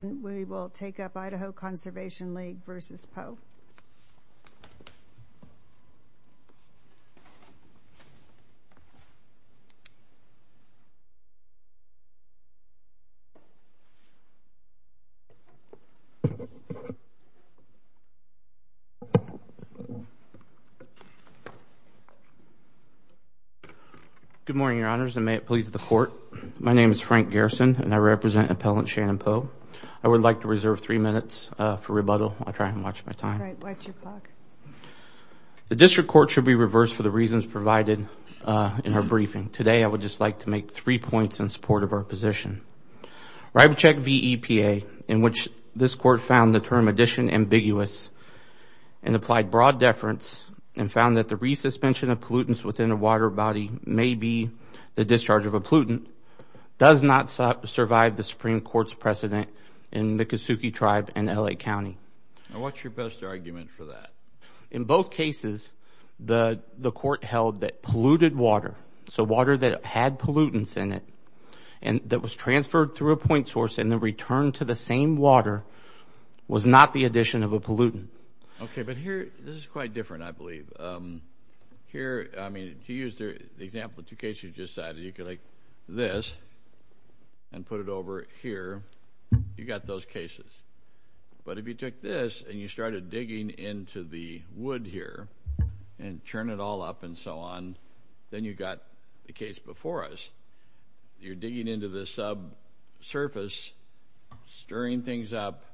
We will take up Idaho Conservation League v. Poe. Good morning, your honors, and may it please the court. My name is Frank Garrison, and I represent Appellant Shannon Poe. I would like to reserve three minutes for rebuttal. I'll try and watch my time. The district court should be reversed for the reasons provided in our briefing. Today, I would just like to make three points in support of our position. Ribechek v. EPA, in which this court found the term addition ambiguous and applied broad deference and found that the resuspension of pollutants within a water body may be the discharge of a pollutant, does not survive the Supreme Court's precedent in the Kesuke tribe and LA County. And what's your best argument for that? In both cases, the court held that polluted water, so water that had pollutants in it, and that was transferred through a point source and then returned to the same water, was not the addition of a pollutant. Okay, but here, this is quite different, I believe. Here, I mean, to use the example of two cases you just cited, you could like this and put it over here, you got those cases. But if you took this and you started digging into the wood here and churn it all up and so on, then you got the case before us. You're digging into the subsurface, stirring things up,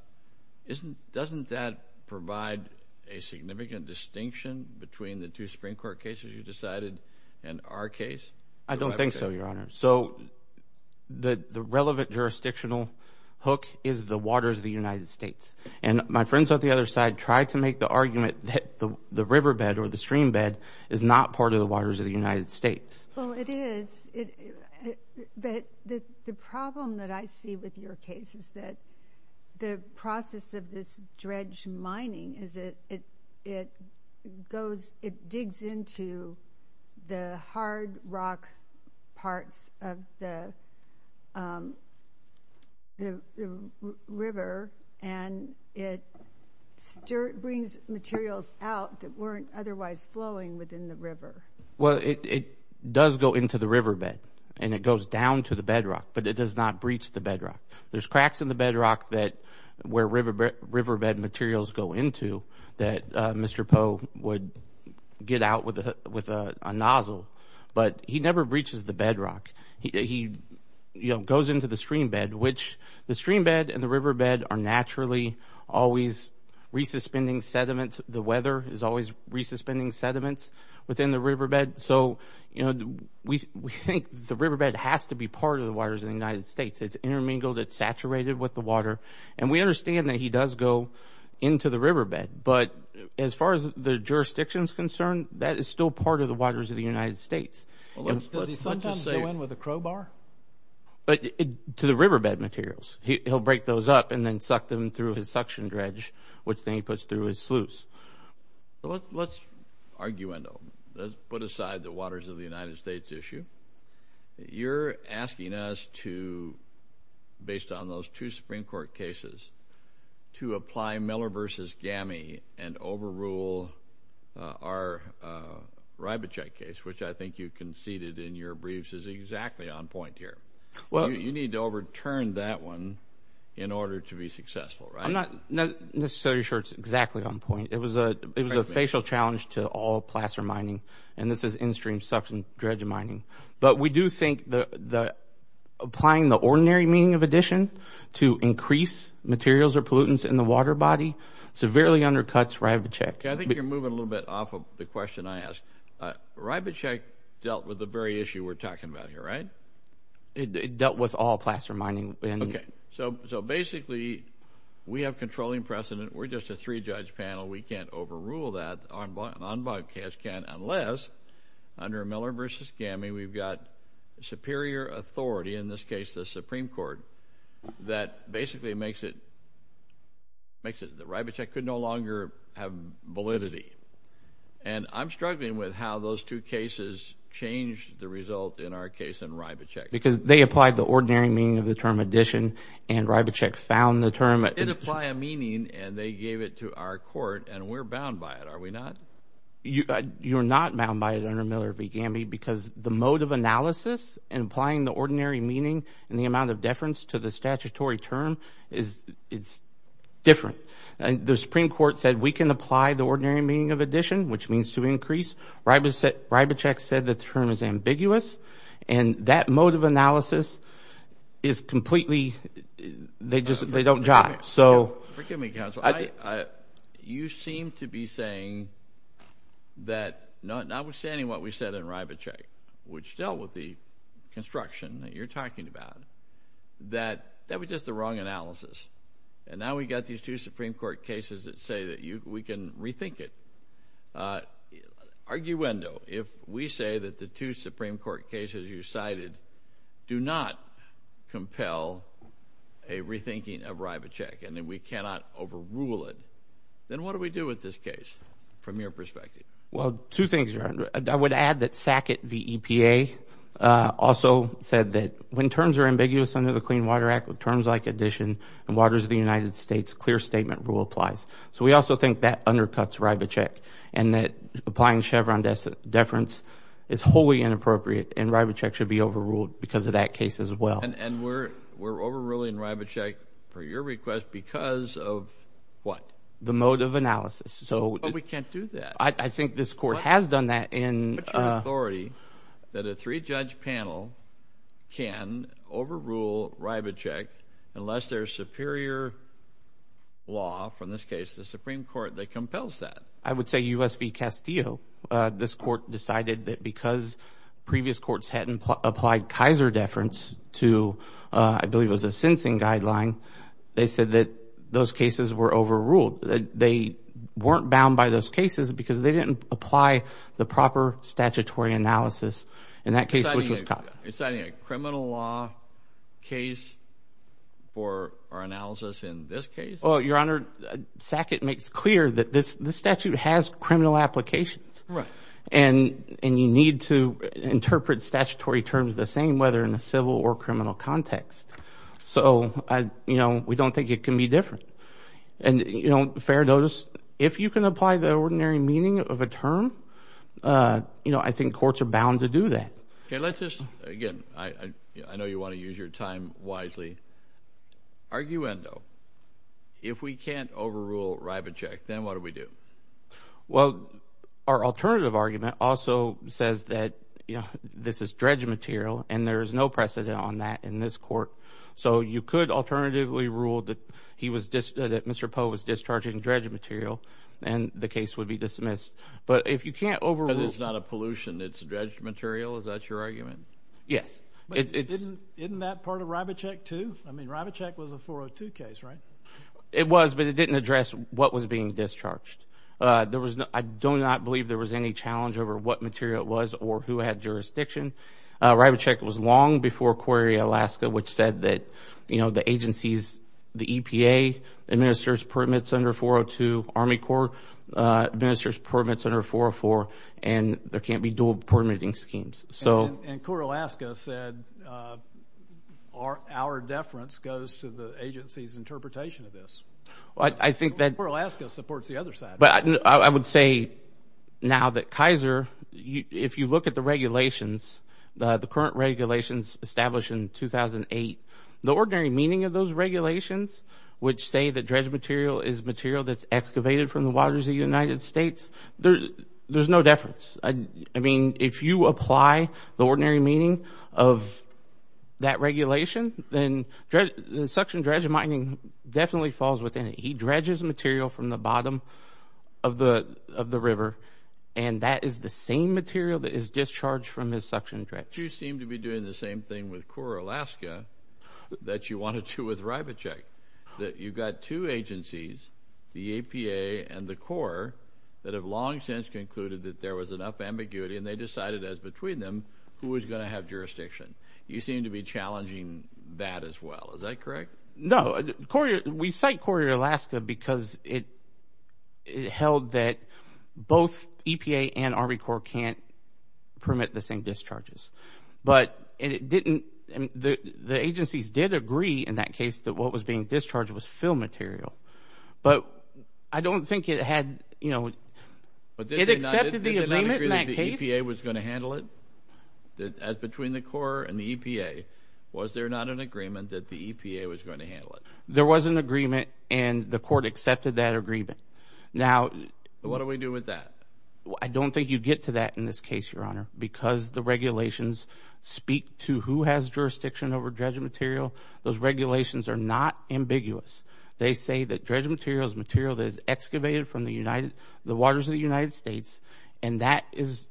doesn't that provide a significant distinction between the two Supreme Court cases you decided in our case? I don't think so, Your Honor. So the relevant jurisdictional hook is the waters of the United States. And my friends on the other side tried to make the argument that the riverbed or the streambed is not part of the waters of the United States. Well, it is, but the problem that I see with your case is that the process of this dredge mining is it goes, it digs into the hard rock parts of the river and it brings materials out that weren't otherwise flowing within the river. Well, it does go into the riverbed and it goes down to the bedrock, but it does not breach the bedrock. There's cracks in the bedrock that where riverbed materials go into that Mr. Poe would get out with a nozzle, but he never breaches the bedrock. He goes into the streambed, which the streambed and the riverbed are naturally always re-suspending sediments. The weather is always re-suspending sediments within the riverbed. So, you know, we think the riverbed has to be part of the waters of the United States. It's intermingled, it's saturated with the water, and we understand that he does go into the riverbed, but as far as the jurisdiction is concerned, that is still part of the waters of the United States. Does he sometimes go in with a crowbar? But to the riverbed materials, he'll break those up and then suck them through his suction dredge, which then he puts through his sluice. Let's argue, let's put aside the waters of the United States issue. You're asking us to, based on those two Supreme Court cases, to apply Miller versus Gamie and overrule our Ribachite case, which I think you conceded in your briefs is exactly on point here. Well, you need to overturn that one in order to be successful, right? I'm not necessarily sure it's exactly on point. It was a facial challenge to all plaster mining, and this is in-stream suction dredge mining. But we do think that applying the ordinary meaning of addition to increase materials or pollutants in the water body severely undercuts Ribachite. I think you're moving a little bit off of the question I asked. Ribachite dealt with the very issue we're talking about here, right? It dealt with all plaster mining. OK, so so basically we have controlling precedent. We're just a three judge panel. We can't overrule that, unbiased can't, unless under Miller versus Gamie, we've got superior authority, in this case, the Supreme Court, that basically makes it makes it the Ribachite could no longer have validity. And I'm struggling with how those two cases changed the result in our case in Ribachite. Because they applied the ordinary meaning of the term addition and Ribachite found the term. It applied a meaning and they gave it to our court and we're bound by it, are we not? You're not bound by it under Miller v. Gamie because the mode of analysis and applying the ordinary meaning and the amount of deference to the statutory term is it's different. And the Supreme Court said we can apply the ordinary meaning of addition, which means to increase. Ribachite said the term is ambiguous. And that mode of analysis is completely they just they don't jive. So forgive me, counsel, you seem to be saying that notwithstanding what we said in Ribachite, which dealt with the construction that you're talking about, that that was just the wrong analysis. And now we've got these two Supreme Court cases that say that we can rethink it. Arguendo, if we say that the two Supreme Court cases you cited do not compel a Ribachite and that we cannot overrule it, then what do we do with this case from your perspective? Well, two things. I would add that Sackett v. EPA also said that when terms are ambiguous under the Clean Water Act with terms like addition and waters of the United States, clear statement rule applies. So we also think that undercuts Ribachite and that applying Chevron deference is wholly inappropriate and Ribachite should be overruled because of that case as well. And we're we're overruling Ribachite for your request because of what? The mode of analysis. So we can't do that. I think this court has done that in authority that a three judge panel can overrule Ribachite unless there's superior. Law, from this case, the Supreme Court that compels that, I would say, U.S. v. Castillo, this court decided that because previous courts hadn't applied Kaiser deference to, I believe it was a sensing guideline, they said that those cases were overruled, that they weren't bound by those cases because they didn't apply the proper statutory analysis in that case. It's a criminal law case for our analysis in this case. Well, Your Honor, Sackett makes clear that this statute has criminal applications. And you need to interpret statutory terms the same, whether in a civil or criminal context. So, you know, we don't think it can be different. And, you know, fair notice, if you can apply the ordinary meaning of a term, you know, I think courts are bound to do that. Okay, let's just, again, I know you want to use your time wisely. Arguendo, if we can't overrule Ribachite, then what do we do? Well, our alternative argument also says that, you know, this is dredge material and there is no precedent on that in this court. So you could alternatively rule that he was, that Mr. Poe was discharging dredge material and the case would be dismissed. But if you can't overrule... Because it's not a pollution, it's dredge material. Is that your argument? Yes. But isn't that part of Ribachite, too? I mean, Ribachite was a 402 case, right? It was, but it didn't address what was being discharged. There was no, I do not believe there was any challenge over what material it was or who had jurisdiction. Ribachite was long before Correa-Alaska, which said that, you know, the agencies, the EPA administers permits under 402, Army Corps administers permits under 404, and there can't be dual permitting schemes. And Correa-Alaska said our deference goes to the agency's interpretation of this. Well, I think that... Correa-Alaska supports the other side. But I would say now that Kaiser, if you look at the regulations, the current regulations established in 2008, the ordinary meaning of those regulations, which say that dredge material is material that's excavated from the waters of the United States, there's no deference. I mean, if you apply the ordinary meaning of that regulation, then suction dredge mining definitely falls within it. He dredges material from the bottom of the of the river, and that is the same material that is discharged from his suction dredge. You seem to be doing the same thing with Correa-Alaska that you wanted to with Ribachite, that you've got two agencies, the EPA and the Corps, that have long since concluded that there was enough ambiguity and they decided as between them who was going to have jurisdiction. You seem to be challenging that as well. Is that correct? No, we cite Correa-Alaska because it held that both EPA and Army Corps can't permit the same discharges. But it didn't, the agencies did agree in that case that what was being discharged was fill material. But I don't think it had, you know, it accepted the agreement in that case. Did they not agree that the EPA was going to handle it? That as between the Corps and the EPA, was there not an agreement that the EPA was going to handle it? There was an agreement and the court accepted that agreement. Now, what do we do with that? I don't think you get to that in this case, Your Honor, because the regulations speak to who has jurisdiction over dredging material. Those regulations are not ambiguous. They say that dredging material is material that is excavated from the United, the waters of the United States. And that is,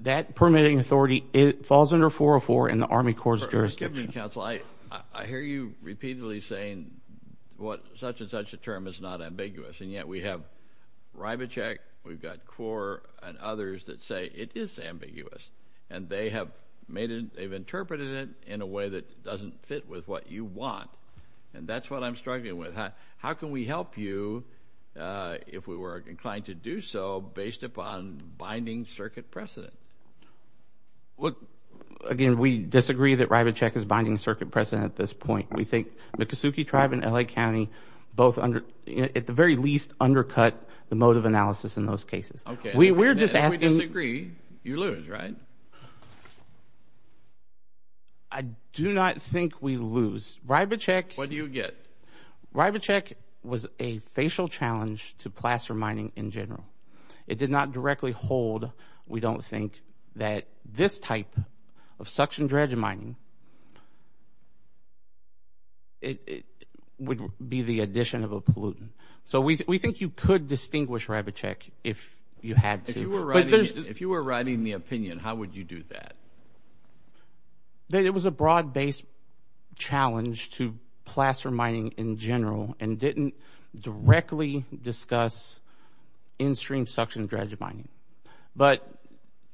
that permitting authority, it falls under 404 in the Army Corps jurisdiction. Excuse me, counsel, I hear you repeatedly saying what such and such a term is not ambiguous. And yet we have Ribicheck, we've got Corps and others that say it is ambiguous and they have made it, they've interpreted it in a way that doesn't fit with what you want. And that's what I'm struggling with. How can we help you if we were inclined to do so based upon binding circuit precedent? Well, again, we disagree that Ribicheck is binding circuit precedent at this point, we think the Kesuke tribe in L.A. County, both under, at the very least, undercut the mode of analysis in those cases. OK, we're just asking, if we disagree, you lose, right? I do not think we lose. Ribicheck, what do you get? Ribicheck was a facial challenge to plaster mining in general. It did not directly hold, we don't think, that this type of suction dredge mining. It would be the addition of a pollutant. So we think you could distinguish Ribicheck if you had to. If you were writing the opinion, how would you do that? That it was a broad based challenge to plaster mining in general and didn't directly discuss in-stream suction dredge mining. But,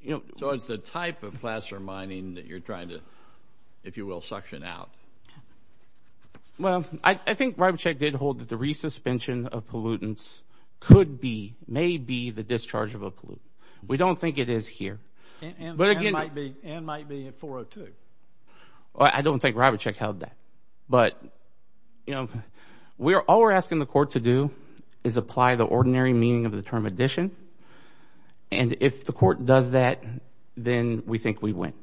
you know. So it's the type of plaster mining that you're trying to, if you will, suction out. Well, I think Ribicheck did hold that the resuspension of pollutants could be, may be, the discharge of a pollutant. We don't think it is here. And might be at 402. I don't think Ribicheck held that. But, you know, all we're asking the court to do is apply the ordinary meaning of the term addition. And if the court does that, then we think we win.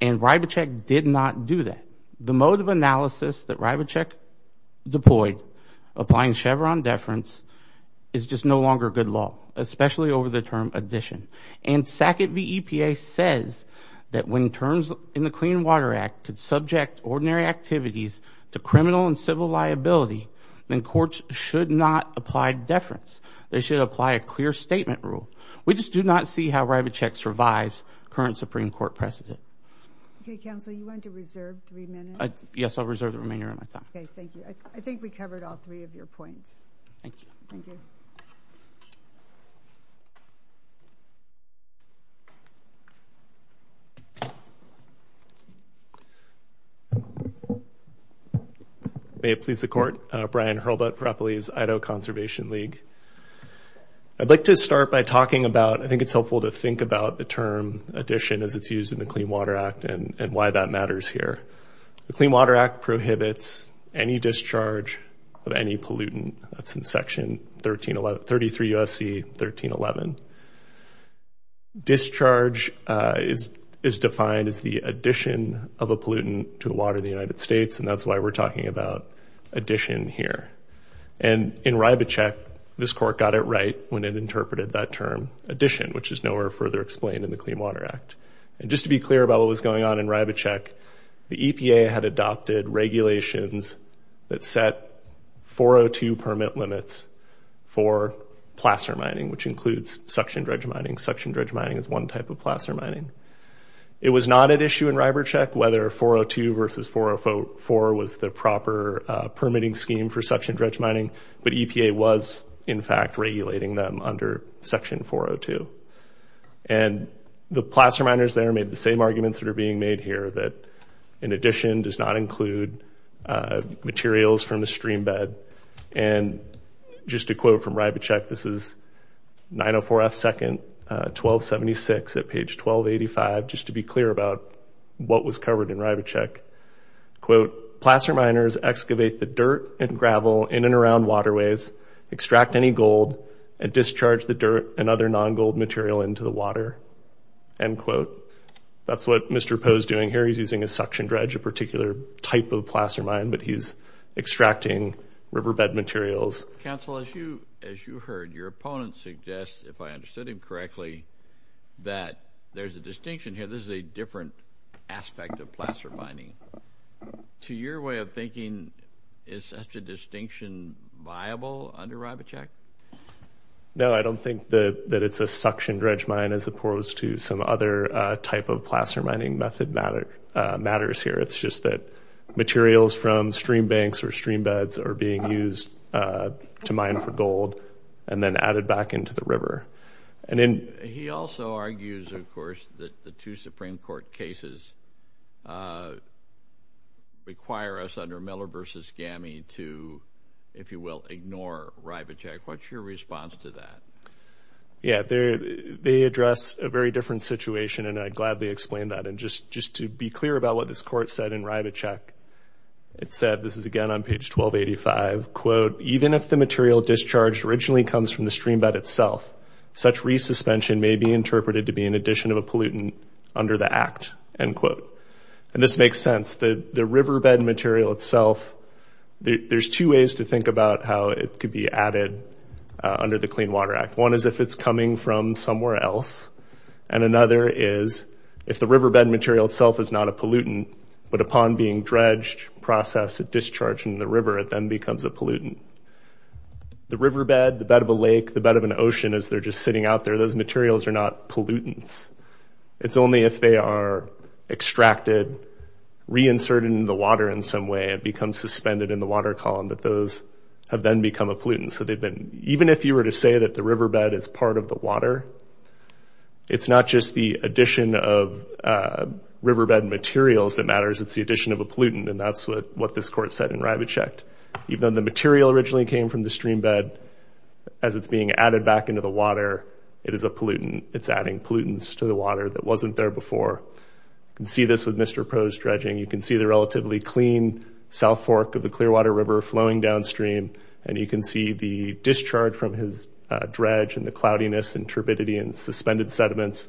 And Ribicheck did not do that. The mode of analysis that Ribicheck deployed, applying Chevron deference, is just no longer good law, especially over the term addition. And SACIT VEPA says that when terms in the Clean Water Act could subject ordinary activities to criminal and civil liability, then courts should not apply deference. They should apply a clear statement rule. We just do not see how Ribicheck survives current Supreme Court precedent. OK, counsel, you want to reserve three minutes? Yes, I'll reserve the remainder of my time. OK, thank you. I think we covered all three of your points. Thank you. Thank you. May it please the court. Brian Hurlbut for Eppley's Idaho Conservation League. I'd like to start by talking about, I think it's helpful to think about the term addition as it's used in the Clean Water Act and why that matters here. The Clean Water Act prohibits any discharge of any pollutant. That's in Section 1311, 33 U.S.C. 1311. Discharge is defined as the addition of a pollutant to water in the United States. And that's why we're talking about addition here. And in Ribicheck, this court got it right when it interpreted that term addition, which is nowhere further explained in the Clean Water Act. And just to be clear about what was going on in Ribicheck, the EPA had adopted regulations that set 402 permit limits for placer mining, which includes suction dredge mining. Suction dredge mining is one type of placer mining. It was not at issue in Ribicheck whether 402 versus 404 was the proper permitting scheme for suction dredge mining. But EPA was, in fact, regulating them under Section 402. And the placer miners there made the same arguments that are being made here that in addition does not include materials from a stream bed. And just a quote from Ribicheck, this is 904 F. 2nd, 1276 at page 1285. Just to be clear about what was covered in Ribicheck, quote, placer miners excavate the dirt and gravel in and around waterways, extract any gold and discharge the dirt and other non-gold material into the water, end quote. That's what Mr. Poe's doing here. He's using a suction dredge, a particular type of placer mine, but he's extracting riverbed materials. Council, as you heard, your opponent suggests, if I understood him correctly, that there's a distinction here. This is a different aspect of placer mining. To your way of thinking, is such a distinction viable under Ribicheck? No, I don't think that it's a suction dredge mine as opposed to some other type of placer mining method matter. Matters here, it's just that materials from stream banks or stream beds are being used to mine for gold and then added back into the river. And then he also argues, of course, that the two Supreme Court cases require us under Miller v. Gamie to, if you will, ignore Ribicheck. What's your response to that? Yeah, they address a very different situation, and I'd gladly explain that. And just to be clear about what this court said in Ribicheck, it said – this is, again, on page 1285 – quote, even if the material discharged originally comes from the stream bed itself, such resuspension may be interpreted to be an addition of a pollutant under the act, end quote. And this makes sense. The riverbed material itself – there's two ways to think about how it could be added under the Clean Water Act. One is if it's coming from somewhere else. And another is, if the riverbed material itself is not a pollutant, but upon being dredged, processed, and discharged into the river, it then becomes a pollutant, the riverbed, the bed of a lake, the bed of an ocean, as they're just sitting out there – those materials are not pollutants. It's only if they are extracted, reinserted into the water in some way, and become suspended in the water column that those have then become a pollutant. So they've been – even if you were to say that the riverbed is part of the water, it's not just the addition of riverbed materials that matters. It's the addition of a pollutant. And that's what this court said in Rybichek. Even though the material originally came from the stream bed, as it's being added back into the water, it is a pollutant. It's adding pollutants to the water that wasn't there before. You can see this with Mr. Pro's dredging. You can see the relatively clean south fork of the Clearwater River flowing downstream. And you can see the discharge from his dredge and the cloudiness and turbidity and suspended sediments.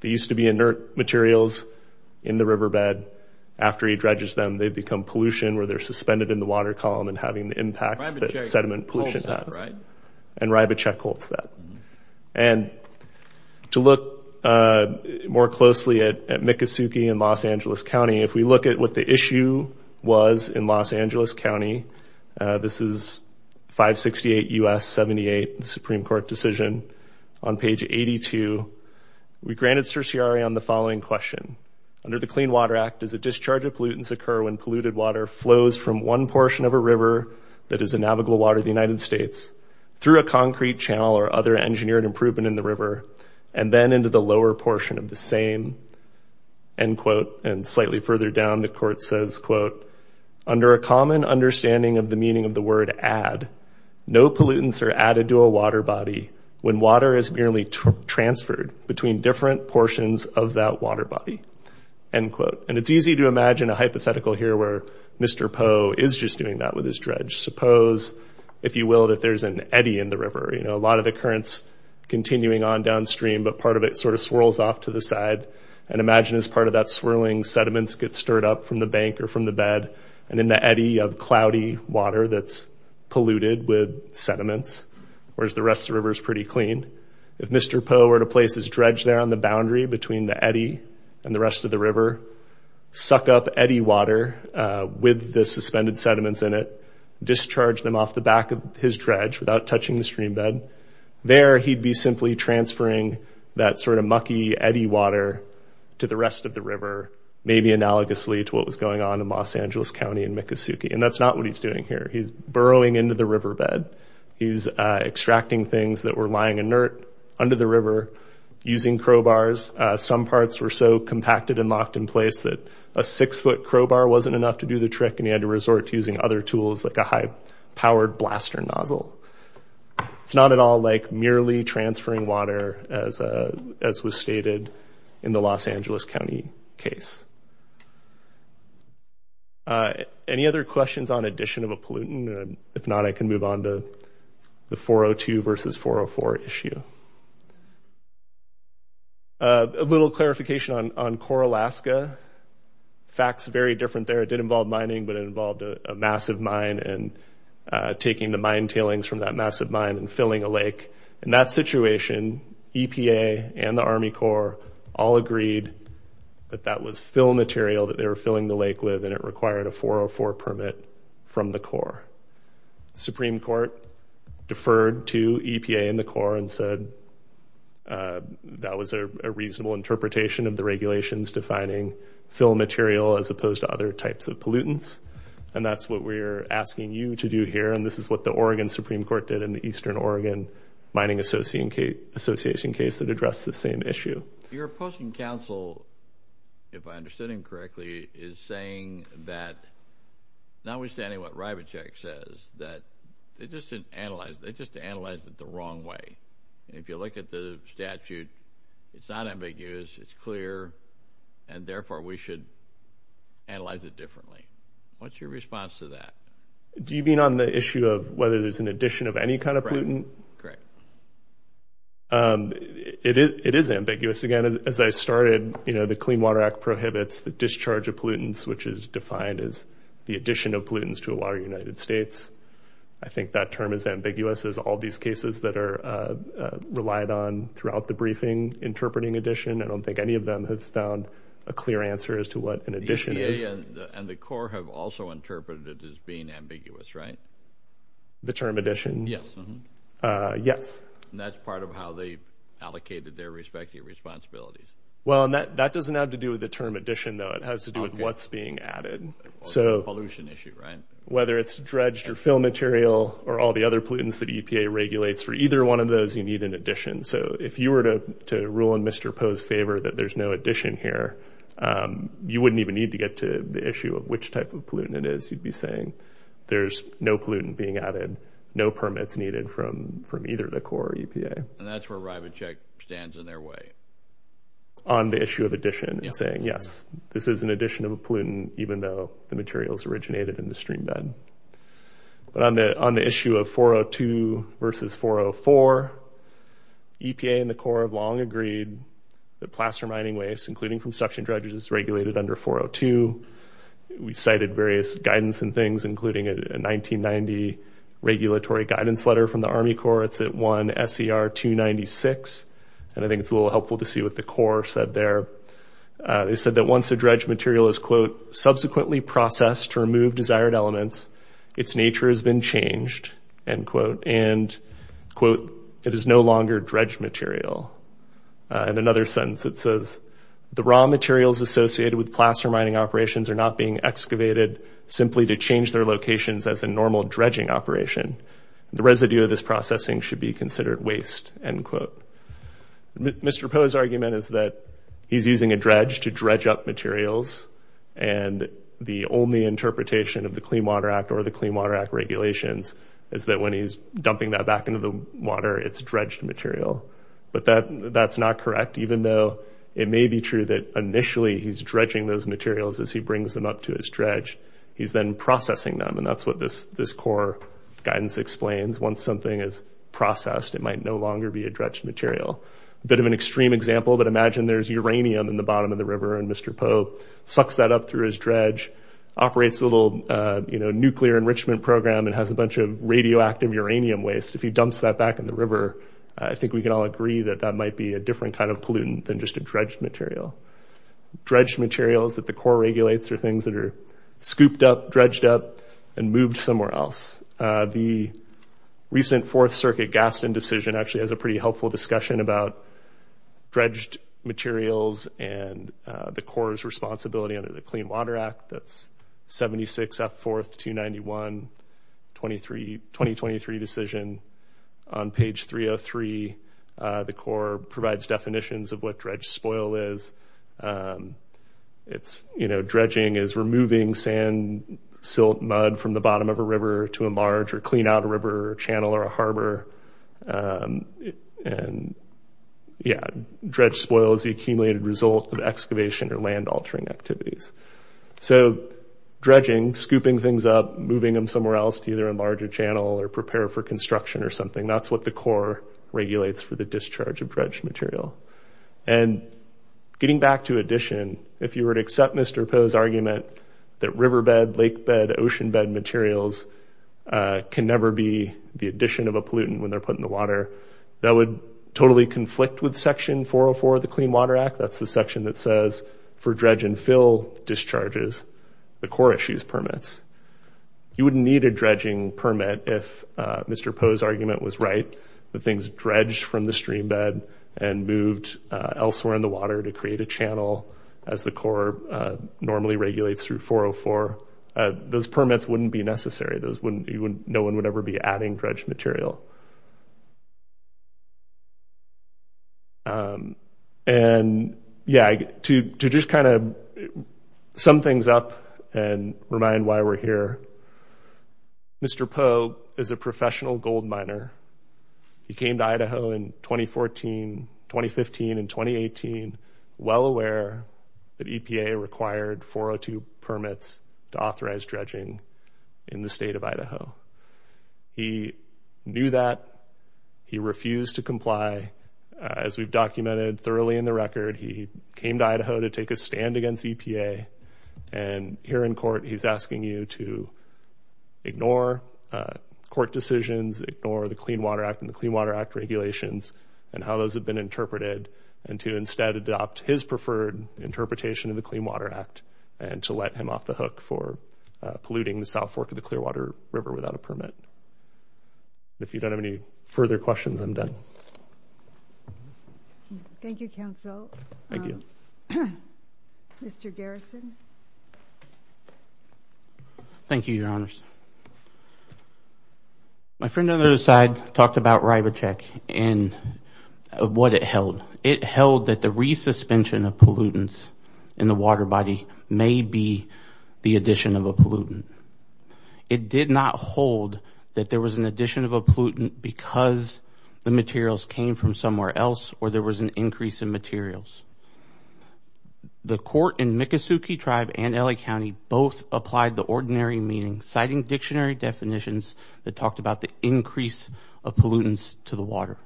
They used to be inert materials in the riverbed. After he dredges them, they become pollution where they're suspended in the water column and having the impacts that sediment pollution has. And Rybichek holds that. And to look more closely at Miccosukee and Los Angeles County, if we look at what the issue was in Los Angeles County, this is 568 U.S. 78, the Supreme Court decision. On page 82, we granted certiorari on the following question. Under the Clean Water Act, does a discharge of pollutants occur when polluted water flows from one portion of a river that is a navigable water of the United States, through a concrete channel or other engineered improvement in the river, and then into the lower portion of the same, end quote? And slightly further down, the court says, quote, under a common understanding of the meaning of the word add, no pollutants are added to a water body when water is merely transferred between different portions of that water body, end quote. And it's easy to imagine a hypothetical here where Mr. Poe is just doing that with his dredge. Suppose, if you will, that there's an eddy in the river. You know, a lot of the current's continuing on downstream, but part of it sort of swirls off to the side. And imagine, as part of that swirling, sediments get stirred up from the bank or from the bed and in the eddy of cloudy water that's polluted with sediments, whereas the rest of the river's pretty clean. If Mr. Poe were to place his dredge there on the boundary between the eddy and the rest of the river, suck up eddy water with the suspended sediments in it, discharge them off the back of his dredge without touching the stream bed, there he'd be simply transferring that sort of mucky eddy water to the rest of the river, maybe analogously to what was going on in Los Angeles County and Miccosukee. And that's not what he's doing here. He's burrowing into the riverbed. He's extracting things that were lying inert under the river using crowbars. Some parts were so compacted and locked in place that a 6-foot crowbar wasn't enough to do the trick, and he had to resort to using other tools like a high-powered blaster nozzle. It's not at all like merely transferring water, as was stated in the Los Angeles County case. Any other questions on addition of a pollutant? If not, I can move on to the 402 versus 404 issue. A little clarification on Core, Alaska. Fact's very different there. It did involve mining, but it involved a massive mine and taking the mine tailings from that massive mine and filling a lake. In that situation, EPA and the Army Corps all agreed that that was fill material that they were filling the lake with, and it required a 404 permit from the Corps. Supreme Court deferred to EPA and the Corps and said that was a reasonable interpretation of the regulations defining fill material as opposed to other types of pollutants, and that's what we're asking you to do here, and this is what the Oregon Supreme Court did in the Eastern Oregon Mining Association case that addressed the same issue. Your opposing counsel, if I understood him correctly, is saying that, notwithstanding what Rybacek says, that they just analyzed it the wrong way. If you look at the statute, it's not in big use. It's clear, and therefore, we should analyze it differently. What's your response to that? Do you mean on the issue of whether there's an addition of any kind of pollutant? Correct. It is ambiguous. Again, as I started, you know, the Clean Water Act prohibits the discharge of pollutants, which is defined as the addition of pollutants to a water in the United States. I think that term is ambiguous as all these cases that are relied on throughout the briefing interpreting addition. I don't think any of them has found a clear answer as to what an addition is. The EPA and the Corps have also interpreted it as being ambiguous, right? The term addition? Yes. Yes. And that's part of how they allocated their respective responsibilities. Well, and that doesn't have to do with the term addition, though. It has to do with what's being added. So... Pollution issue, right? Whether it's dredged or fill material or all the other pollutants that EPA regulates, for either one of those, you need an addition. So if you were to rule in Mr. Poe's favor that there's no addition here, you wouldn't even need to get to the issue of which type of pollutant it is. You'd be saying there's no pollutant being added, no permits needed from either the Corps or EPA. And that's where RivaCheck stands in their way. On the issue of addition and saying, yes, this is an addition of a pollutant, even though the materials originated in the streambed. But on the issue of 402 versus 404, EPA and the Corps have long agreed that plaster mining waste, including from suction dredges, is regulated under 402. We cited various guidance and things, including a 1990 regulatory guidance letter from the Army Corps. It's at 1 SCR 296. And I think it's a little helpful to see what the Corps said there. They said that once a dredge material is, quote, subsequently processed to remove desired elements, its nature has been changed, end quote. And, quote, it is no longer dredge material. In another sentence, it says, the raw materials associated with plaster mining operations are not being excavated simply to change their locations as a normal dredging operation. The residue of this processing should be considered waste, end quote. Mr. Poe's argument is that he's using a dredge to dredge up materials. And the only interpretation of the Clean Water Act or the Clean Water Act regulations is that, when he's dumping that back into the water, it's dredged material. But that's not correct, even though it may be true that initially he's dredging those materials as he brings them up to his dredge. He's then processing them. And that's what this Corps guidance explains. Once something is processed, it might no longer be a dredge material. A bit of an extreme example, but imagine there's uranium in the bottom of the river, and Mr. Poe sucks that up through his dredge, operates a little, you know, nuclear enrichment program, and has a bunch of radioactive uranium waste. If he dumps that back in the river, I think we can all agree that that might be a different kind of pollutant than just a dredged material. Dredged materials that the Corps regulates are things that are scooped up, dredged up, and moved somewhere else. The recent Fourth Circuit Gaston decision actually has a pretty helpful discussion about dredged materials and the Corps' responsibility under the Clean Water Act. That's 76 F. 4th 291, 2023 decision. On page 303, the Corps provides definitions of what dredge spoil is. It's – you know, dredging is removing sand, silt, mud from the bottom of a river to enlarge or clean out a river or a channel or a harbor. And, yeah, dredge spoil is the accumulated result of excavation or land-altering activities. So dredging – scooping things up, moving them somewhere else to either enlarge a channel or prepare for construction or something – that's what the Corps regulates for the discharge of dredged material. And getting back to addition, if you were to accept Mr. Poe's argument that riverbed, lakebed, oceanbed materials can never be the addition of a pollutant when they're put in the water, that would totally conflict with Section 404 of the Clean Water Act. That's the section that says, for dredge and fill discharges, the Corps issues permits. You wouldn't need a dredging permit if Mr. Poe's argument was right. The things dredged from the streambed and moved elsewhere in the water to create a channel, as the Corps normally regulates through 404. Those permits wouldn't be necessary. Those wouldn't – no one would ever be adding dredged material. And, yeah, to just kind of sum things up and remind why we're here, Mr. Poe is a professional gold miner. He came to Idaho in 2014 – 2015 and 2018 well aware that EPA required 402 permits to authorize dredging in the state of Idaho. He knew that. He refused to comply. As we've documented thoroughly in the record, he came to Idaho to take a stand against EPA. And here in court, he's asking you to ignore court decisions, ignore the Clean Water Act and the Clean Water Act regulations and how those have been interpreted, and to instead adopt his preferred interpretation of the Clean Water Act and to let him off the hook for polluting the South Fork of the Clearwater River without a permit. If you don't have any further questions, I'm done. MS. NANCY LENOX. MS. NANCY LENOX. Mr. Garrison. MR. GARRISON. Thank you, Your Honors. My friend on the other side talked about RIBOCHEC and what it held. It held that the re-suspension of pollutants in the water body may be the addition of a pollutant. It did not hold that there was an addition of a pollutant because the materials came from somewhere else or there was an increase in materials. The court in Miccosukee Tribe and L.A. County both applied the ordinary meaning, citing dictionary definitions that talked about the increase of pollutants to the water.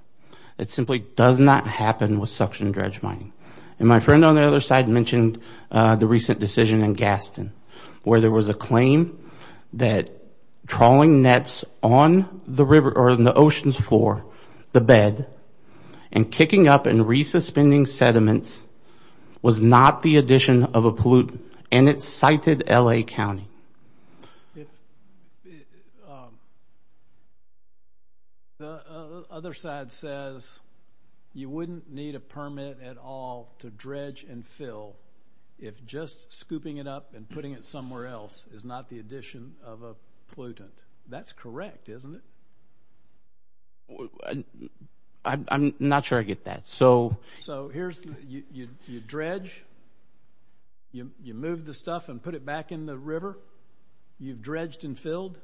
It simply does not happen with suction dredge mining. And my friend on the other side mentioned the recent decision in Gaston where there was a claim that trawling nets on the river or in the ocean's floor, the bed, and kicking up and re-suspending sediments was not the addition of a pollutant, and it cited L.A. County. If the other side says you wouldn't need a permit at all to dredge and fill if just scooping it up and putting it somewhere else is not the addition of a pollutant, that's correct, isn't it? I'm not sure I get that. So you dredge, you move the stuff and put it back in the river, you've dredged and filled,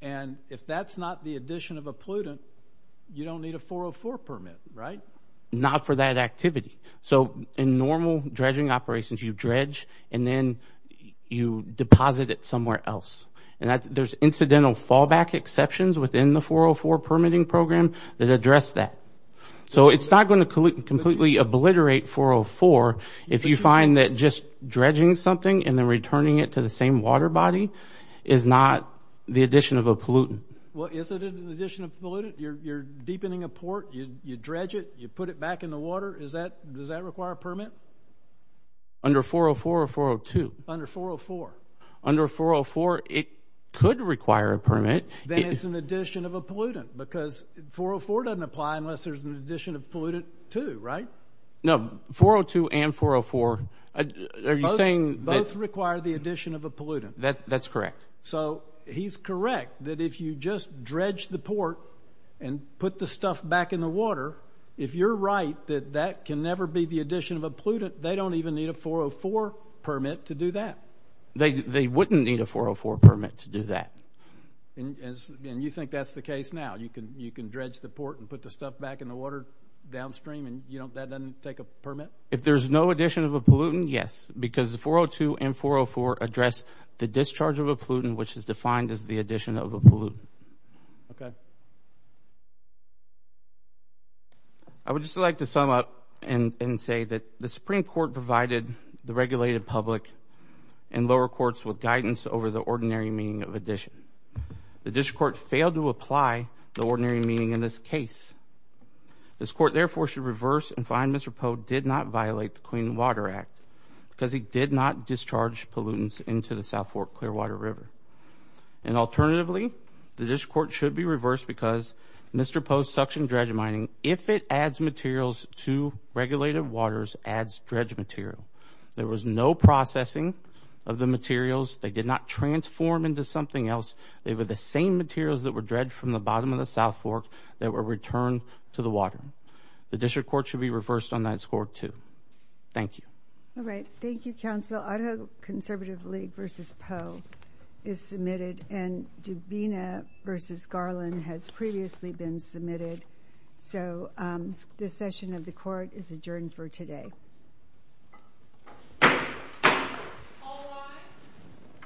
and if that's not the addition of a pollutant, you don't need a 404 permit, right? Not for that activity. So in normal dredging operations, you dredge and then you deposit it somewhere else. And there's incidental fallback exceptions within the 404 permitting program that address that. So it's not going to completely obliterate 404 if you find that just dredging something and then returning it to the same water body is not the addition of a pollutant. Well, is it an addition of pollutant? You're deepening a port, you dredge it, you put it back in the water, does that require a permit? Under 404 or 402? Under 404. Under 404, it could require a permit. Then it's an addition of a pollutant because 404 doesn't apply unless there's an addition of pollutant too, right? No, 402 and 404, are you saying that... Both require the addition of a pollutant. That's correct. So he's correct that if you just dredge the port and put the stuff back in the water, if you're right that that can never be the addition of a pollutant, they don't even need a 404 permit to do that. They wouldn't need a 404 permit to do that. And you think that's the case now? You can dredge the port and put the stuff back in the water downstream and that doesn't take a permit? If there's no addition of a pollutant, yes. Because 402 and 404 address the discharge of a pollutant, which is defined as the addition of a pollutant. Okay. I would just like to sum up and say that the Supreme Court provided the regulated public and lower courts with guidance over the ordinary meaning of addition. The district court failed to apply the ordinary meaning in this case. This court therefore should reverse and find Mr. Poe did not violate the Clean Water Act because he did not discharge pollutants into the South Fork Clearwater River. And alternatively, the district court should be reversed because Mr. Poe's suction dredge mining, if it adds materials to regulated waters, adds dredge material. There was no processing of the materials. They did not transform into something else. They were the same materials that were dredged from the bottom of the South Fork that were returned to the water. The district court should be reversed on that score too. Thank you. All right. Thank you, counsel. Idaho Conservative League versus Poe is submitted. And Dubina versus Garland has previously been submitted. So this session of the court is adjourned for today. Thank you.